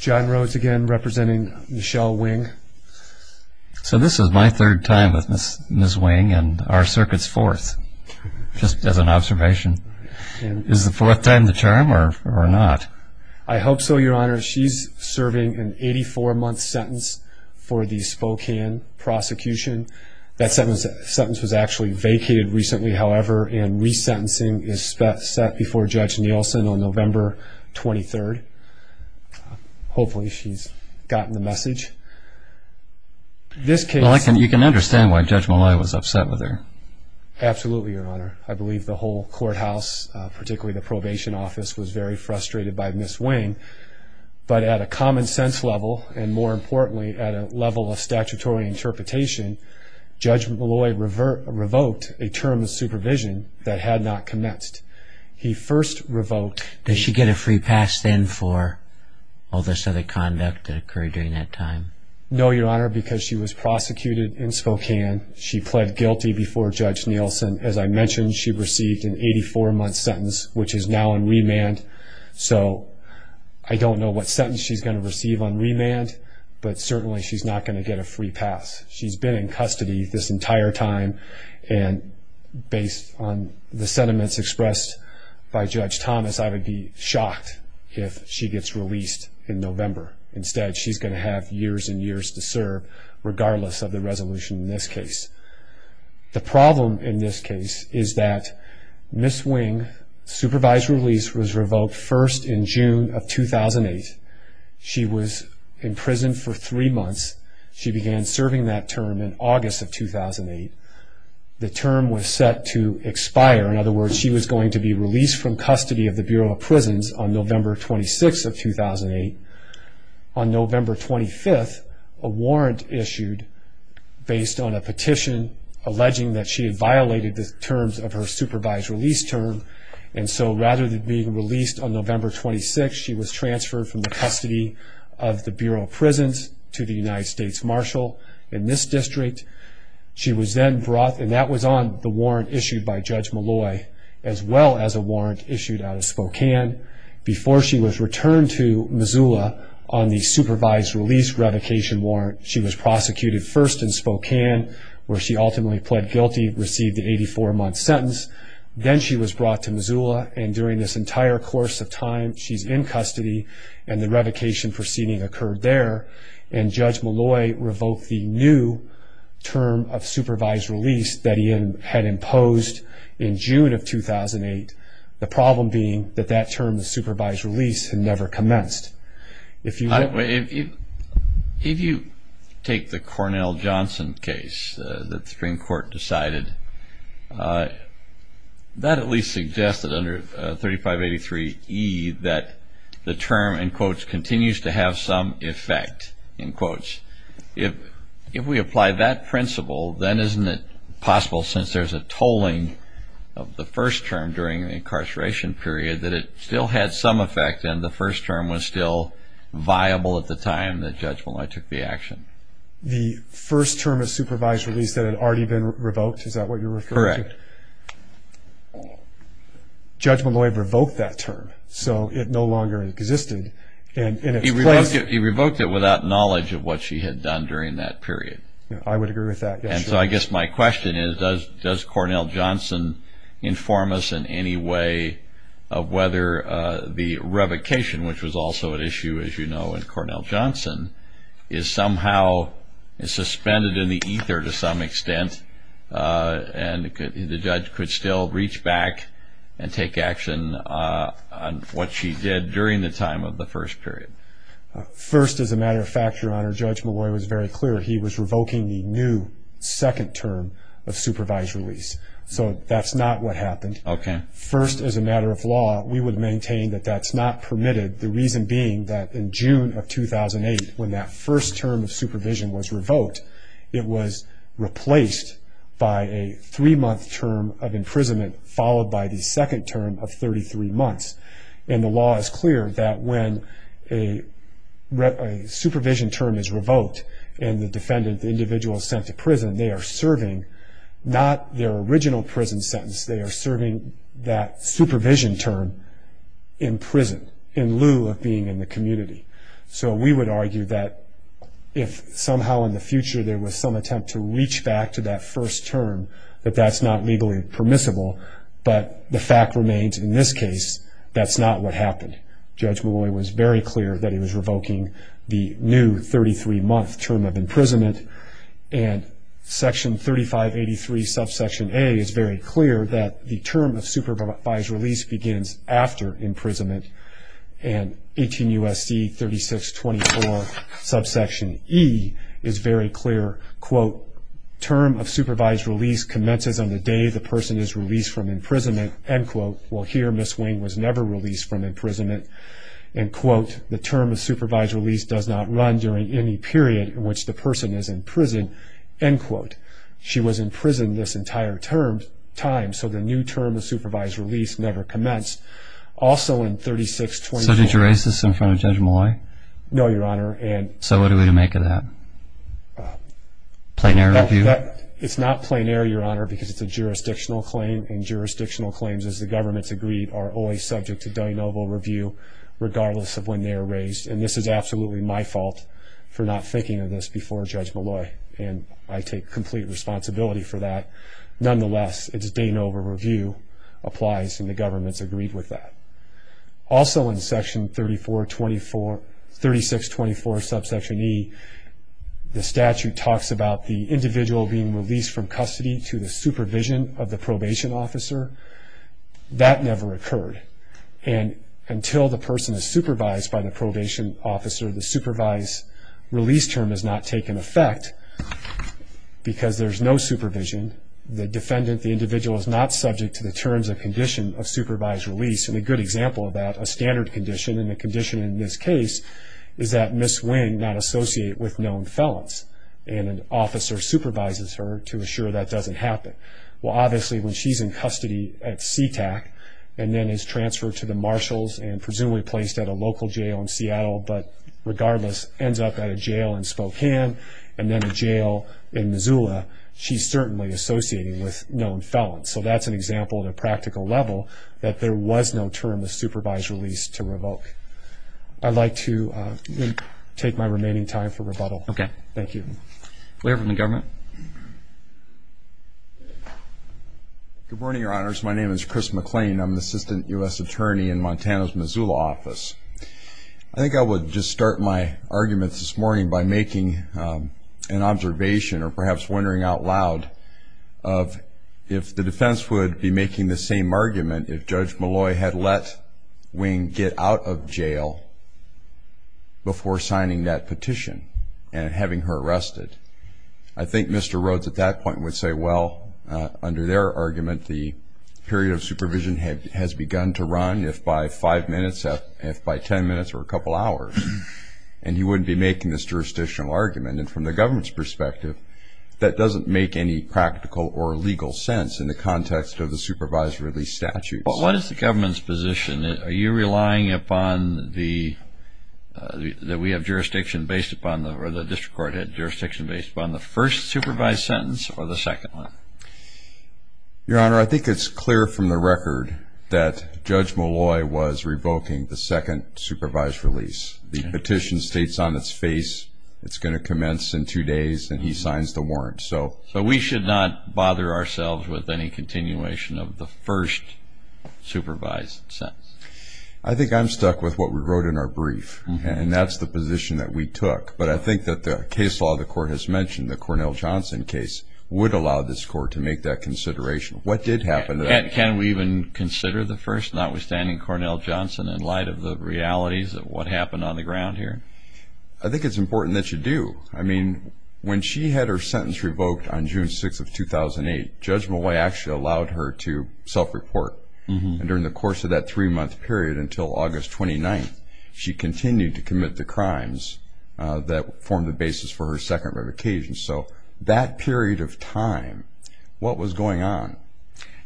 John Rhodes again representing Michelle Wing. So this is my third time with Miss Wing and our circuit's fourth, just as an observation. Is the fourth time the charm or not? I hope so your honor. She's serving an 84 month sentence for the Spokane prosecution. That sentence was actually vacated recently however and resentencing is set before Judge Nielsen on November 23rd. Hopefully she's gotten the message. You can understand why Judge Malloy was upset with her. Absolutely your honor. I believe the whole courthouse, particularly the probation office, was very frustrated by Miss Wing. But at a common sense level and more importantly at a level of statutory interpretation, Judge Malloy revoked a term of supervision that had not commenced. He first revoked... Did she get a free pass then for all this other conduct that occurred during that time? No your honor because she was prosecuted in Spokane. She pled guilty before Judge Nielsen. As I mentioned she received an 84 month sentence which is now in remand so I don't know what sentence she's going to receive on remand but certainly she's not going to get a free pass. She's been in custody this entire time and based on the sentiments expressed by Judge Thomas I would be shocked if she gets released in November. Instead she's going to have years and years to serve regardless of the resolution in this case. The problem in this case is that Miss Wing supervised release was revoked first in June of 2008. She was in prison for three months. She began serving that term in August of 2008. The term was set to expire. In other words she was going to be released from custody of the Bureau of Prisons on November 26th of 2008. On November 25th a warrant issued based on a petition alleging that she had violated the terms of her supervised release term and so rather than being released on November 26th she was transferred from the custody of the Bureau of Prisons to the United States Marshal in this district. She was then brought and that was on the warrant issued by Judge Malloy as well as a warrant issued out of Spokane before she was returned to Missoula on the supervised release revocation warrant. She was prosecuted first in Spokane where she ultimately pled guilty and received an 84 month sentence. Then she was brought to the United States Marshal during this entire course of time. She's in custody and the revocation proceeding occurred there and Judge Malloy revoked the new term of supervised release that he had imposed in June of 2008. The problem being that that term, the supervised release, had never commenced. If you take the 3583E that the term, in quotes, continues to have some effect, in quotes, if we apply that principle then isn't it possible since there's a tolling of the first term during the incarceration period that it still had some effect and the first term was still viable at the time that Judge Malloy took the action. The first term of supervised release that had already been revoked, is that what you're referring to? Correct. Judge Malloy revoked that term, so it no longer existed. He revoked it without knowledge of what she had done during that period. I would agree with that. And so I guess my question is does Cornell Johnson inform us in any way of whether the revocation, which was also an issue as you know in Cornell Johnson, is somehow suspended in the ether to some extent and the judge could still reach back and take action on what she did during the time of the first period? First, as a matter of fact, Your Honor, Judge Malloy was very clear he was revoking the new second term of supervised release. So that's not what happened. Okay. First, as a matter of law, we would maintain that that's not permitted. The reason being that in June of 2008 when that first term of imprisonment followed by the second term of 33 months. And the law is clear that when a supervision term is revoked and the defendant, the individual is sent to prison, they are serving not their original prison sentence, they are serving that supervision term in prison, in lieu of being in the community. So we would argue that if somehow in the future there was some attempt to reach back to that first term, that that's not legally permissible. But the fact remains in this case, that's not what happened. Judge Malloy was very clear that he was revoking the new 33-month term of imprisonment. And Section 3583 Subsection A is very clear that the term of supervised release begins after imprisonment. And 18 U.S.C. 3624 Subsection E is very clear, quote, term of supervised release commences on the day the person is released from imprisonment, end quote. Well here, Ms. Wayne was never released from imprisonment, end quote. The term of supervised release does not run during any period in which the person is in prison, end quote. She was in prison this entire time, so the new term of supervised release never commenced, also in 3624. So did you raise this in front of Judge Malloy? No, Your Honor. So what are we to make of that? Plain air review? It's not plain air, Your Honor, because it's a jurisdictional claim, and jurisdictional claims, as the government has agreed, are always subject to deniable review, regardless of when they are raised. And this is absolutely my fault for not thinking of this before Judge Malloy, and I take complete responsibility for that. Nonetheless, it's deniable review applies, and the government's agreed with that. Also in Section 3424, 3624 Subsection E, the statute talks about the individual being released from custody to the supervision of the probation officer. That never occurred. And until the person is supervised by the probation officer, the supervised release term has not taken effect, because there's no supervision. The defendant, the individual, is not subject to the terms and condition of supervised release. And a good example of that, a standard condition, and a condition in this case, is that Ms. Wing not associate with known felons, and an officer supervises her to assure that doesn't happen. Well, obviously, when she's in custody at Sea-Tac, and then is transferred to the marshals, and ends up at a jail in Spokane, and then a jail in Missoula, she's certainly associating with known felons. So that's an example, at a practical level, that there was no term of supervised release to revoke. I'd like to take my remaining time for rebuttal. Thank you. We have one from the government. Good morning, Your Honors. My name is Chris McLean. I'm the Assistant U.S. Attorney in Montana's Missoula office. I think I would just start my arguments this morning by making an observation, or perhaps wondering out loud, of if the defense would be making the same argument if Judge Malloy had let Wing get out of jail before signing that petition, and having her arrested. I think Mr. Rhodes, at that point, would say, well, under their argument, the period of release would be gone if by 5 minutes, if by 10 minutes, or a couple hours. And he wouldn't be making this jurisdictional argument. And from the government's perspective, that doesn't make any practical or legal sense in the context of the supervised release statute. But what is the government's position? Are you relying upon the, that we have jurisdiction based upon, or the district court had jurisdiction based upon, the first supervised sentence, or the second one? Your Honor, I think it's clear from the record that Judge Malloy was revoking the second supervised release. The petition states on its face, it's going to commence in two days, and he signs the warrant. So we should not bother ourselves with any continuation of the first supervised sentence. I think I'm stuck with what we wrote in our brief, and that's the position that we took. But I think that the case law the court has mentioned, the Cornell-Johnson case, would allow this court to make that consideration. What did happen to that? Can we even consider the first, notwithstanding Cornell-Johnson, in light of the realities of what happened on the ground here? I think it's important that you do. I mean, when she had her sentence revoked on June 6th of 2008, Judge Malloy actually allowed her to self-report. And during the course of that three-month period until August 29th, she continued to commit the crimes that formed the basis for her second revocation. So that period of time, what was going on?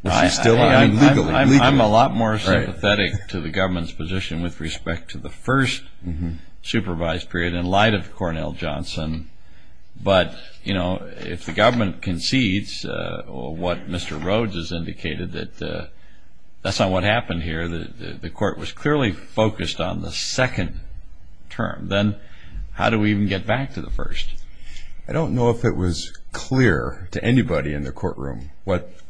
I'm a lot more sympathetic to the government's position with respect to the first supervised period in light of Cornell-Johnson. But, you know, if the government concedes what Mr. Rhodes has indicated that that's not what happened here, that the court was clearly focused on the second term, then how do we even get back to the first? I don't know if it was clear to anybody in the courtroom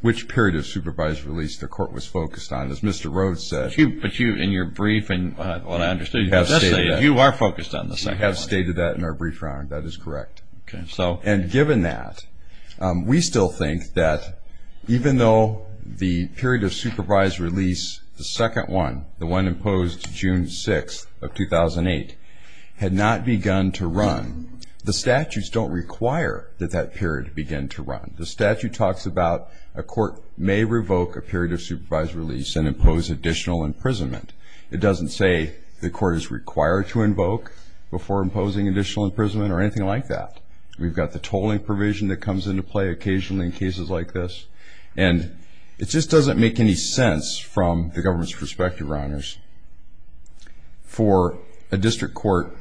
which period of supervised release the court was focused on, as Mr. Rhodes said. But you, in your brief, and what I understood, you have stated that. You are focused on the second one. We have stated that in our brief, Your Honor. That is correct. Okay. So? And given that, we still think that even though the period of supervised release, the second one, the one imposed June 6th of 2008, had not begun to run, the statutes don't require that that period begin to run. The statute talks about a court may revoke a period of supervised release and impose additional imprisonment. It doesn't say the court is required to invoke before imposing additional imprisonment or anything like that. We've got the tolling provision that comes into play occasionally in cases like this. And it just doesn't make any sense from the government's perspective, Your Honors, for a district court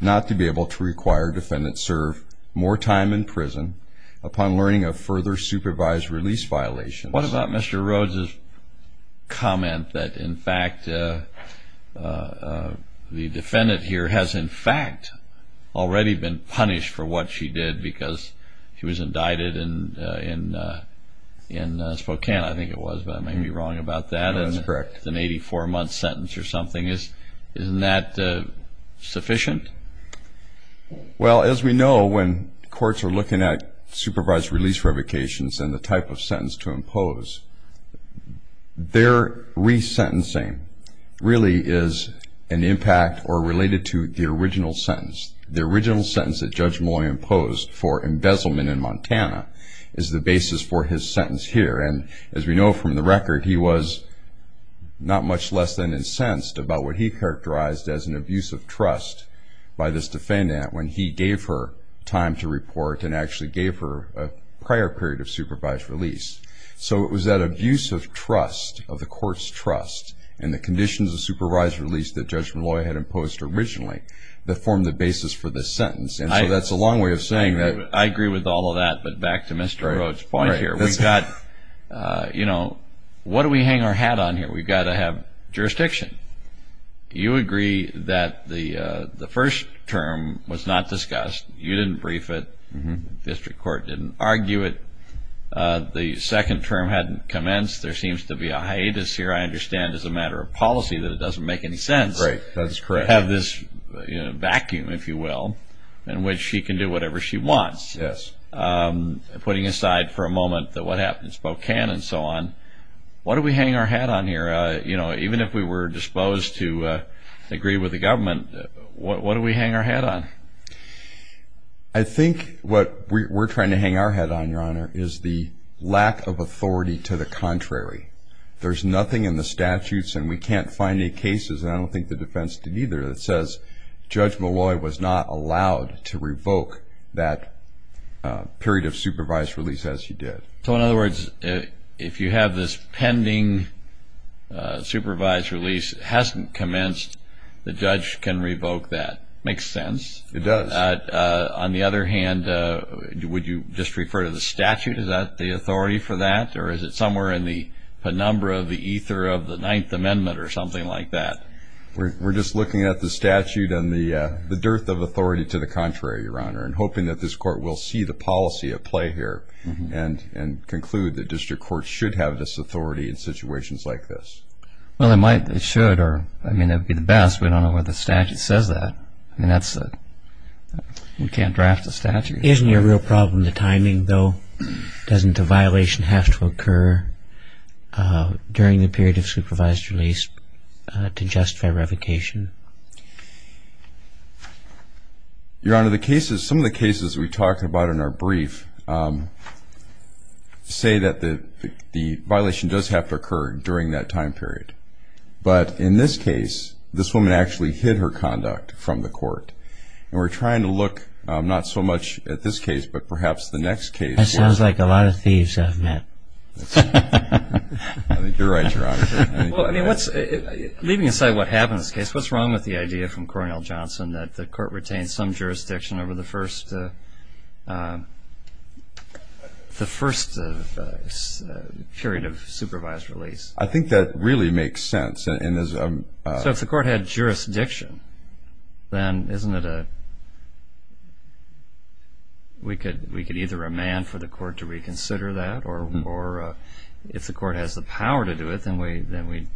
not to be able to require defendants serve more time in prison upon learning of further supervised release violations. What about Mr. Rhodes' comment that, in fact, the defendant here has, in fact, already been punished for what she did because she was indicted in Spokane, I think it was, but I may be wrong about that. No, that's correct. An 84-month sentence or something, isn't that sufficient? Well, as we know, when courts are looking at supervised release revocations and the type of sentence to impose, their re-sentencing really is an impact or related to the original sentence. The original sentence that Judge Moy imposed for embezzlement in Montana is the basis for his sentence here. And as we know from the record, he was not much less than incensed about what he characterized as an abuse of trust by this defendant when he gave her time to report and actually gave her a prior period of supervised release. So it was that abuse of trust, of the court's trust, and the conditions of supervised release that Judge Molloy had imposed originally that formed the basis for this sentence. And so that's a long way of saying that... I agree with all of that, but back to Mr. Rhodes' point here. We've got, you know, what do we hang our hat on here? We've got to have jurisdiction. You agree that the first term was not discussed. You didn't brief it. The district court didn't argue it. The second term hadn't commenced. There seems to be a hiatus here, I understand, as a matter of policy that it doesn't make any sense... Right, that's correct. ...to have this vacuum, if you will, in which she can do whatever she wants. Yes. Putting aside for a moment what happened in Spokane and so on, what do we hang our hat on here? You know, even if we were disposed to agree with the government, what do we hang our hat on? I think what we're trying to hang our hat on, Your Honor, is the lack of authority to the contrary. There's nothing in the statutes, and we can't find any cases, and I don't think the defense did either, that says Judge Molloy was not allowed to revoke that period of supervised release, as he did. So, in other words, if you have this pending supervised release hasn't commenced, the judge can revoke that. Makes sense. It does. On the other hand, would you just refer to the statute? Is that the authority for that? Or is it somewhere in the penumbra of the ether of the Ninth Amendment, or something like that? We're just looking at the statute and the dearth of authority to the contrary, Your Honor, and hoping that this court will see the policy at play here, and conclude that district courts should have this authority in situations like this. Well, it might. It should. I mean, it would be the best. We don't know whether the statute says that. I mean, that's... We can't draft a statute. Isn't your real problem the timing, though? Doesn't a violation have to occur during the period of supervised release to justify revocation? Your Honor, some of the cases we talked about in our brief say that the violation does have to occur during that time period. But in this case, this woman actually hid her conduct from the court. And we're trying to look, not so much at this case, but perhaps the next case. That sounds like a lot of thieves I've met. I think you're right, Your Honor. Well, I mean, leaving aside what happened in this case, what's wrong with the idea from Cornell Johnson that the court retained some jurisdiction over the first... the first period of supervised release? I think that really makes sense. So if the court had jurisdiction, then isn't it a... We could either demand for the court to reconsider that, or if the court has the power to do it, then we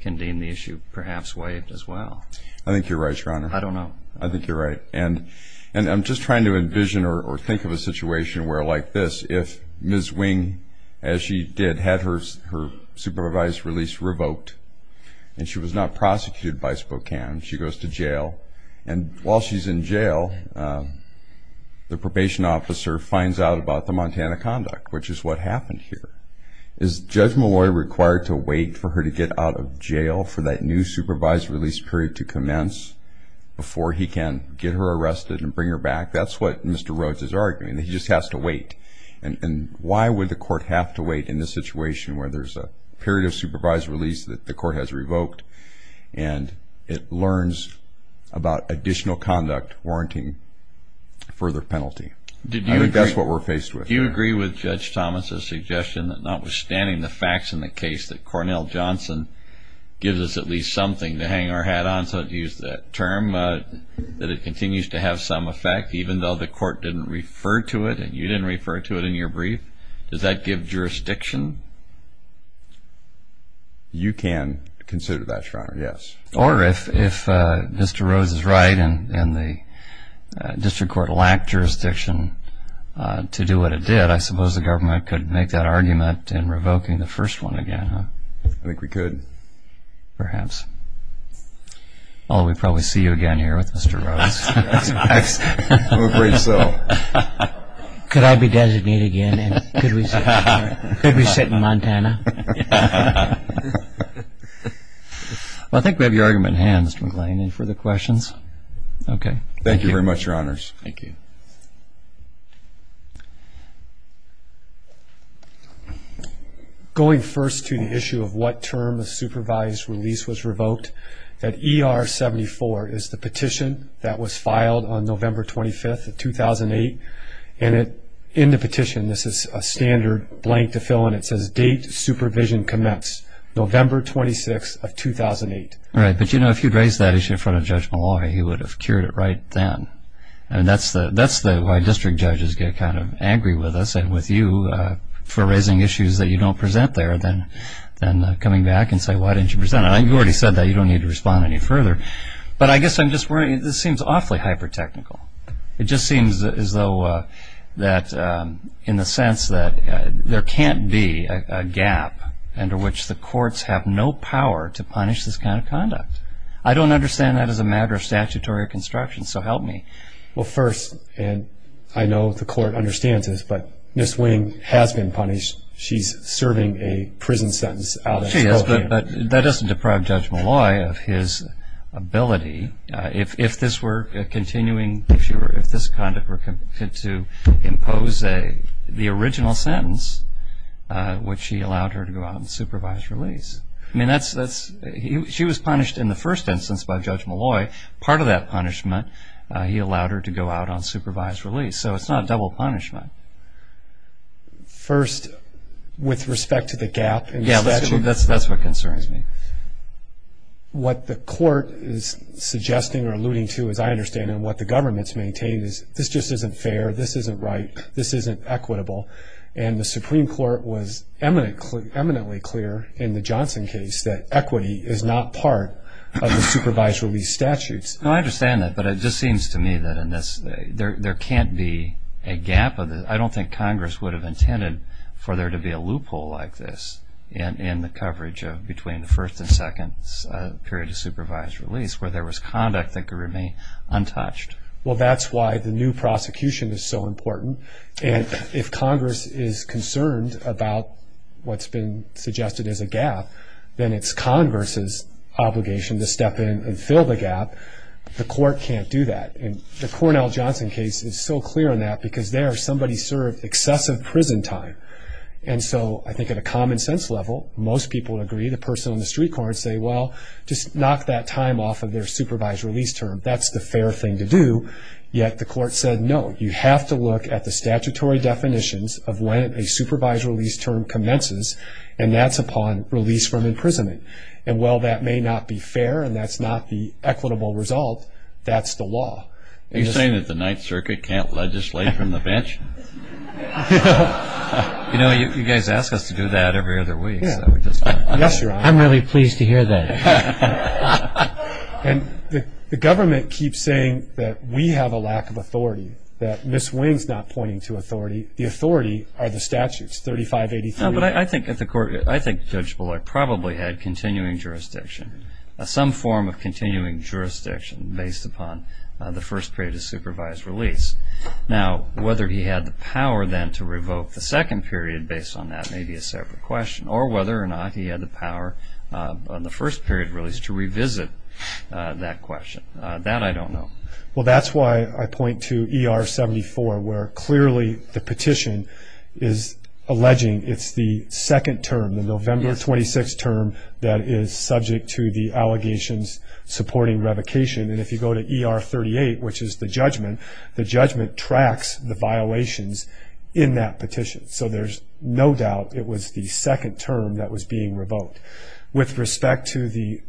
can deem the issue perhaps waived as well. I think you're right, Your Honor. I don't know. I think you're right. And I'm just trying to envision or think of a situation where, like this, if Ms. Wing, as she did, had her supervised release revoked and she was not prosecuted by Spokane, she goes to jail. And while she's in jail, the probation officer finds out about the Montana conduct, which is what happened here. Is Judge Malloy required to wait for her to get out of jail for that new supervised release period to commence before he can get her arrested and bring her back? That's what Mr. Rhodes is arguing, that he just has to wait. And why would the court have to wait in this situation where there's a period of supervised release that the court has revoked and it learns about additional conduct warranting further penalty? I think that's what we're faced with. Do you agree with Judge Thomas's suggestion that notwithstanding the facts in the case that Cornell Johnson gives us at least something to hang our hat on, so to use that term, that it continues to have some effect even though the court didn't refer to it and you didn't refer to it in your brief? Does that give jurisdiction? You can consider that, Your Honor, yes. Or if Mr. Rhodes is right and the district court lacked jurisdiction to do what it did, I suppose the government could make that argument in revoking the first one again, huh? I think we could. Perhaps. Well, we'd probably see you again here with Mr. Rhodes. I'm afraid so. Could I be designated again? Could we see you again? I'll be sitting in Montana. I think we have your argument in hand, Mr. McGlynn. Any further questions? Thank you very much, Your Honors. Going first to the issue of what term the supervised release was revoked, that ER 74 is the petition that was filed on November 25th of 2008. In the petition, this is a standard blank to fill in. It says, Date Supervision Commenced, November 26th of 2008. Right, but if you'd raised that issue in front of Judge Malloy, he would have cured it right then. That's why district judges get kind of angry with us and with you for raising issues that you don't present there than coming back and saying, why didn't you present it? You already said that. You don't need to respond any further. But I guess I'm just worried. I mean, this seems awfully hyper-technical. It just seems as though that in the sense that there can't be a gap under which the courts have no power to punish this kind of conduct. I don't understand that as a matter of statutory construction, so help me. Well, first, and I know the court understands this, but Ms. Wing has been punished. She's serving a prison sentence out of her own free will. She is, but that doesn't deprive Judge Malloy of his ability if this were continuing if this conduct were to impose the original sentence which he allowed her to go out on supervised release. She was punished in the first instance by Judge Malloy. Part of that punishment he allowed her to go out on supervised release. So it's not double punishment. First, with respect to the gap in statute? That's what concerns me. What the court is suggesting or alluding to, as I understand it, and what the government's maintaining is this just isn't fair, this isn't right, this isn't equitable, and the Supreme Court was eminently clear in the Johnson case that equity is not part of the supervised release statutes. I understand that, but it just seems to me that there can't be a gap. I don't think Congress would have intended for there to be a loophole like this in the coverage of between the first and second period of supervised release where there was conduct that could remain untouched. Well, that's why the new prosecution is so important and if Congress is concerned about what's been suggested as a gap, then it's Congress' obligation to step in and fill the gap. The court can't do that. The Cornell-Johnson case is so clear on that because there somebody served excessive prison time, and so I think at a common sense level, most people would agree, the person on the street corner would say, well, just knock that time off of their supervised release term. That's the fair thing to do, yet the court said no, you have to look at the statutory definitions of when a supervised release term commences, and that's upon release from imprisonment. And while that may not be fair and that's not the equitable result, that's the law. You're saying that the Ninth Circuit can't legislate from the bench? You know, you guys ask us to do that every other week. I'm really pleased to hear that. And the government keeps saying that we have a lack of authority, that Ms. Wing's not pointing to authority, the authority are the statutes, 3583. No, but I think Judge Bullock probably had continuing jurisdiction, some form of continuing jurisdiction based upon the first period of whether he had the power then to revoke the second period based on that, maybe a separate question, or whether or not he had the power on the first period release to revisit that question. That I don't know. Well, that's why I point to ER 74, where clearly the petition is alleging it's the second term, the November 26 term that is subject to the allegations supporting revocation. And if you go to ER 38, which is the violations in that petition. So there's no doubt it was the second term that was being revoked. With respect to the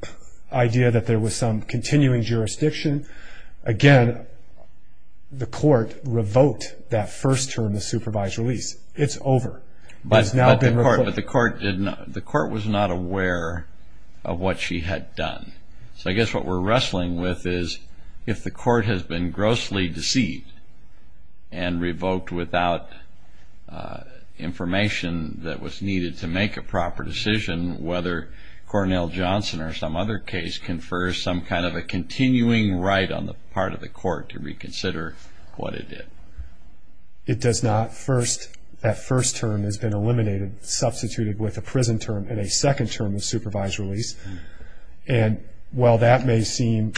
idea that there was some continuing jurisdiction, again, the court revoked that first term, the supervised release. It's over. But the court was not aware of what she had done. So I guess what we're wrestling with is if the court has been grossly deceived and revoked without information that was needed to make a proper decision, whether Cornell Johnson or some other case confers some kind of a continuing right on the part of the court to reconsider what it did. It does not. First, that first term has been eliminated, substituted with a prison term and a second term of supervised release. And while that may seem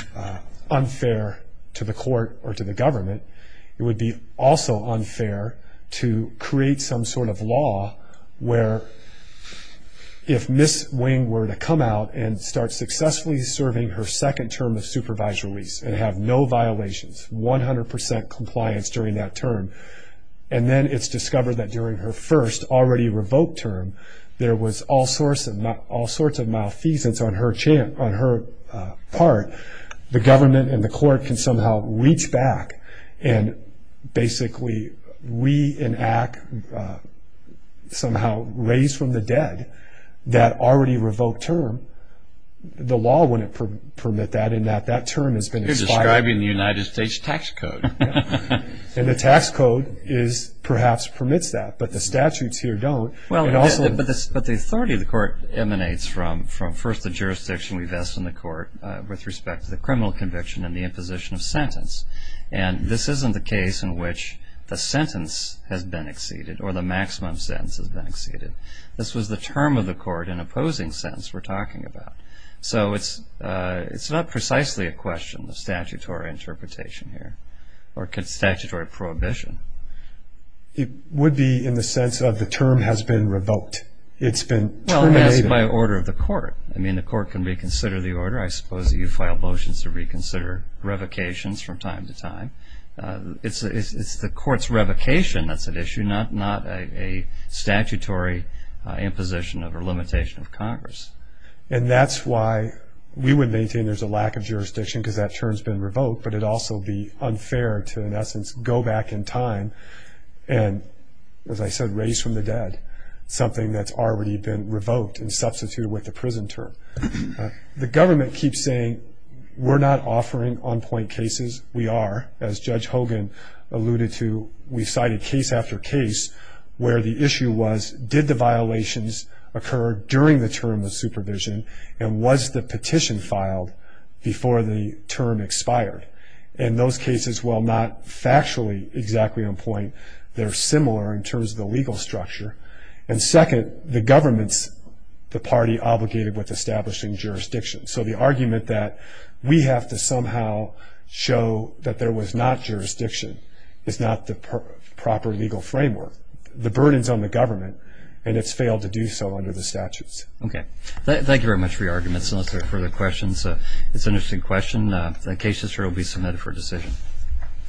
unfair to the court or to the government, it would be also unfair to create some sort of law where if Ms. Wing were to come out and start successfully serving her second term of supervised release and have no violations, 100% compliance during that term, and then it's discovered that during her first already revoked term, there was all sorts of malfeasance on her part. The government and the court can somehow reach back and basically reenact somehow raised from the dead that already revoked term. The law wouldn't permit that and that term has been expired. You're describing the United States tax code. And the tax code perhaps permits that, but the statutes here don't. But the authority of the court emanates from first the respect to the criminal conviction and the imposition of sentence. And this isn't the case in which the sentence has been exceeded or the maximum sentence has been exceeded. This was the term of the court in opposing sense we're talking about. So it's not precisely a question of statutory interpretation here or statutory prohibition. It would be in the sense of the term has been revoked. It's been terminated. Well, yes, by order of the court. I mean, the court can reconsider the order. I suppose you file motions to reconsider revocations from time to time. It's the court's revocation that's at issue, not a statutory imposition or limitation of Congress. And that's why we would maintain there's a lack of jurisdiction because that term's been revoked, but it'd also be unfair to, in essence, go back in time and as I said, raised from the dead something that's already been revoked and substituted with the prison term. The government keeps saying we're not offering on-point cases. We are. As Judge Hogan alluded to, we cited case after case where the issue was, did the violations occur during the term of supervision and was the petition filed before the term expired? And those cases while not factually exactly on point, they're similar in terms of the legal structure. And second, the government's the party obligated with establishing jurisdiction. So the argument that we have to somehow show that there was not jurisdiction is not the proper legal framework. The burden's on the government, and it's failed to do so under the statutes. Okay. Thank you very much for your arguments. Unless there are further questions, it's an interesting question. The case is sure to be submitted for decision.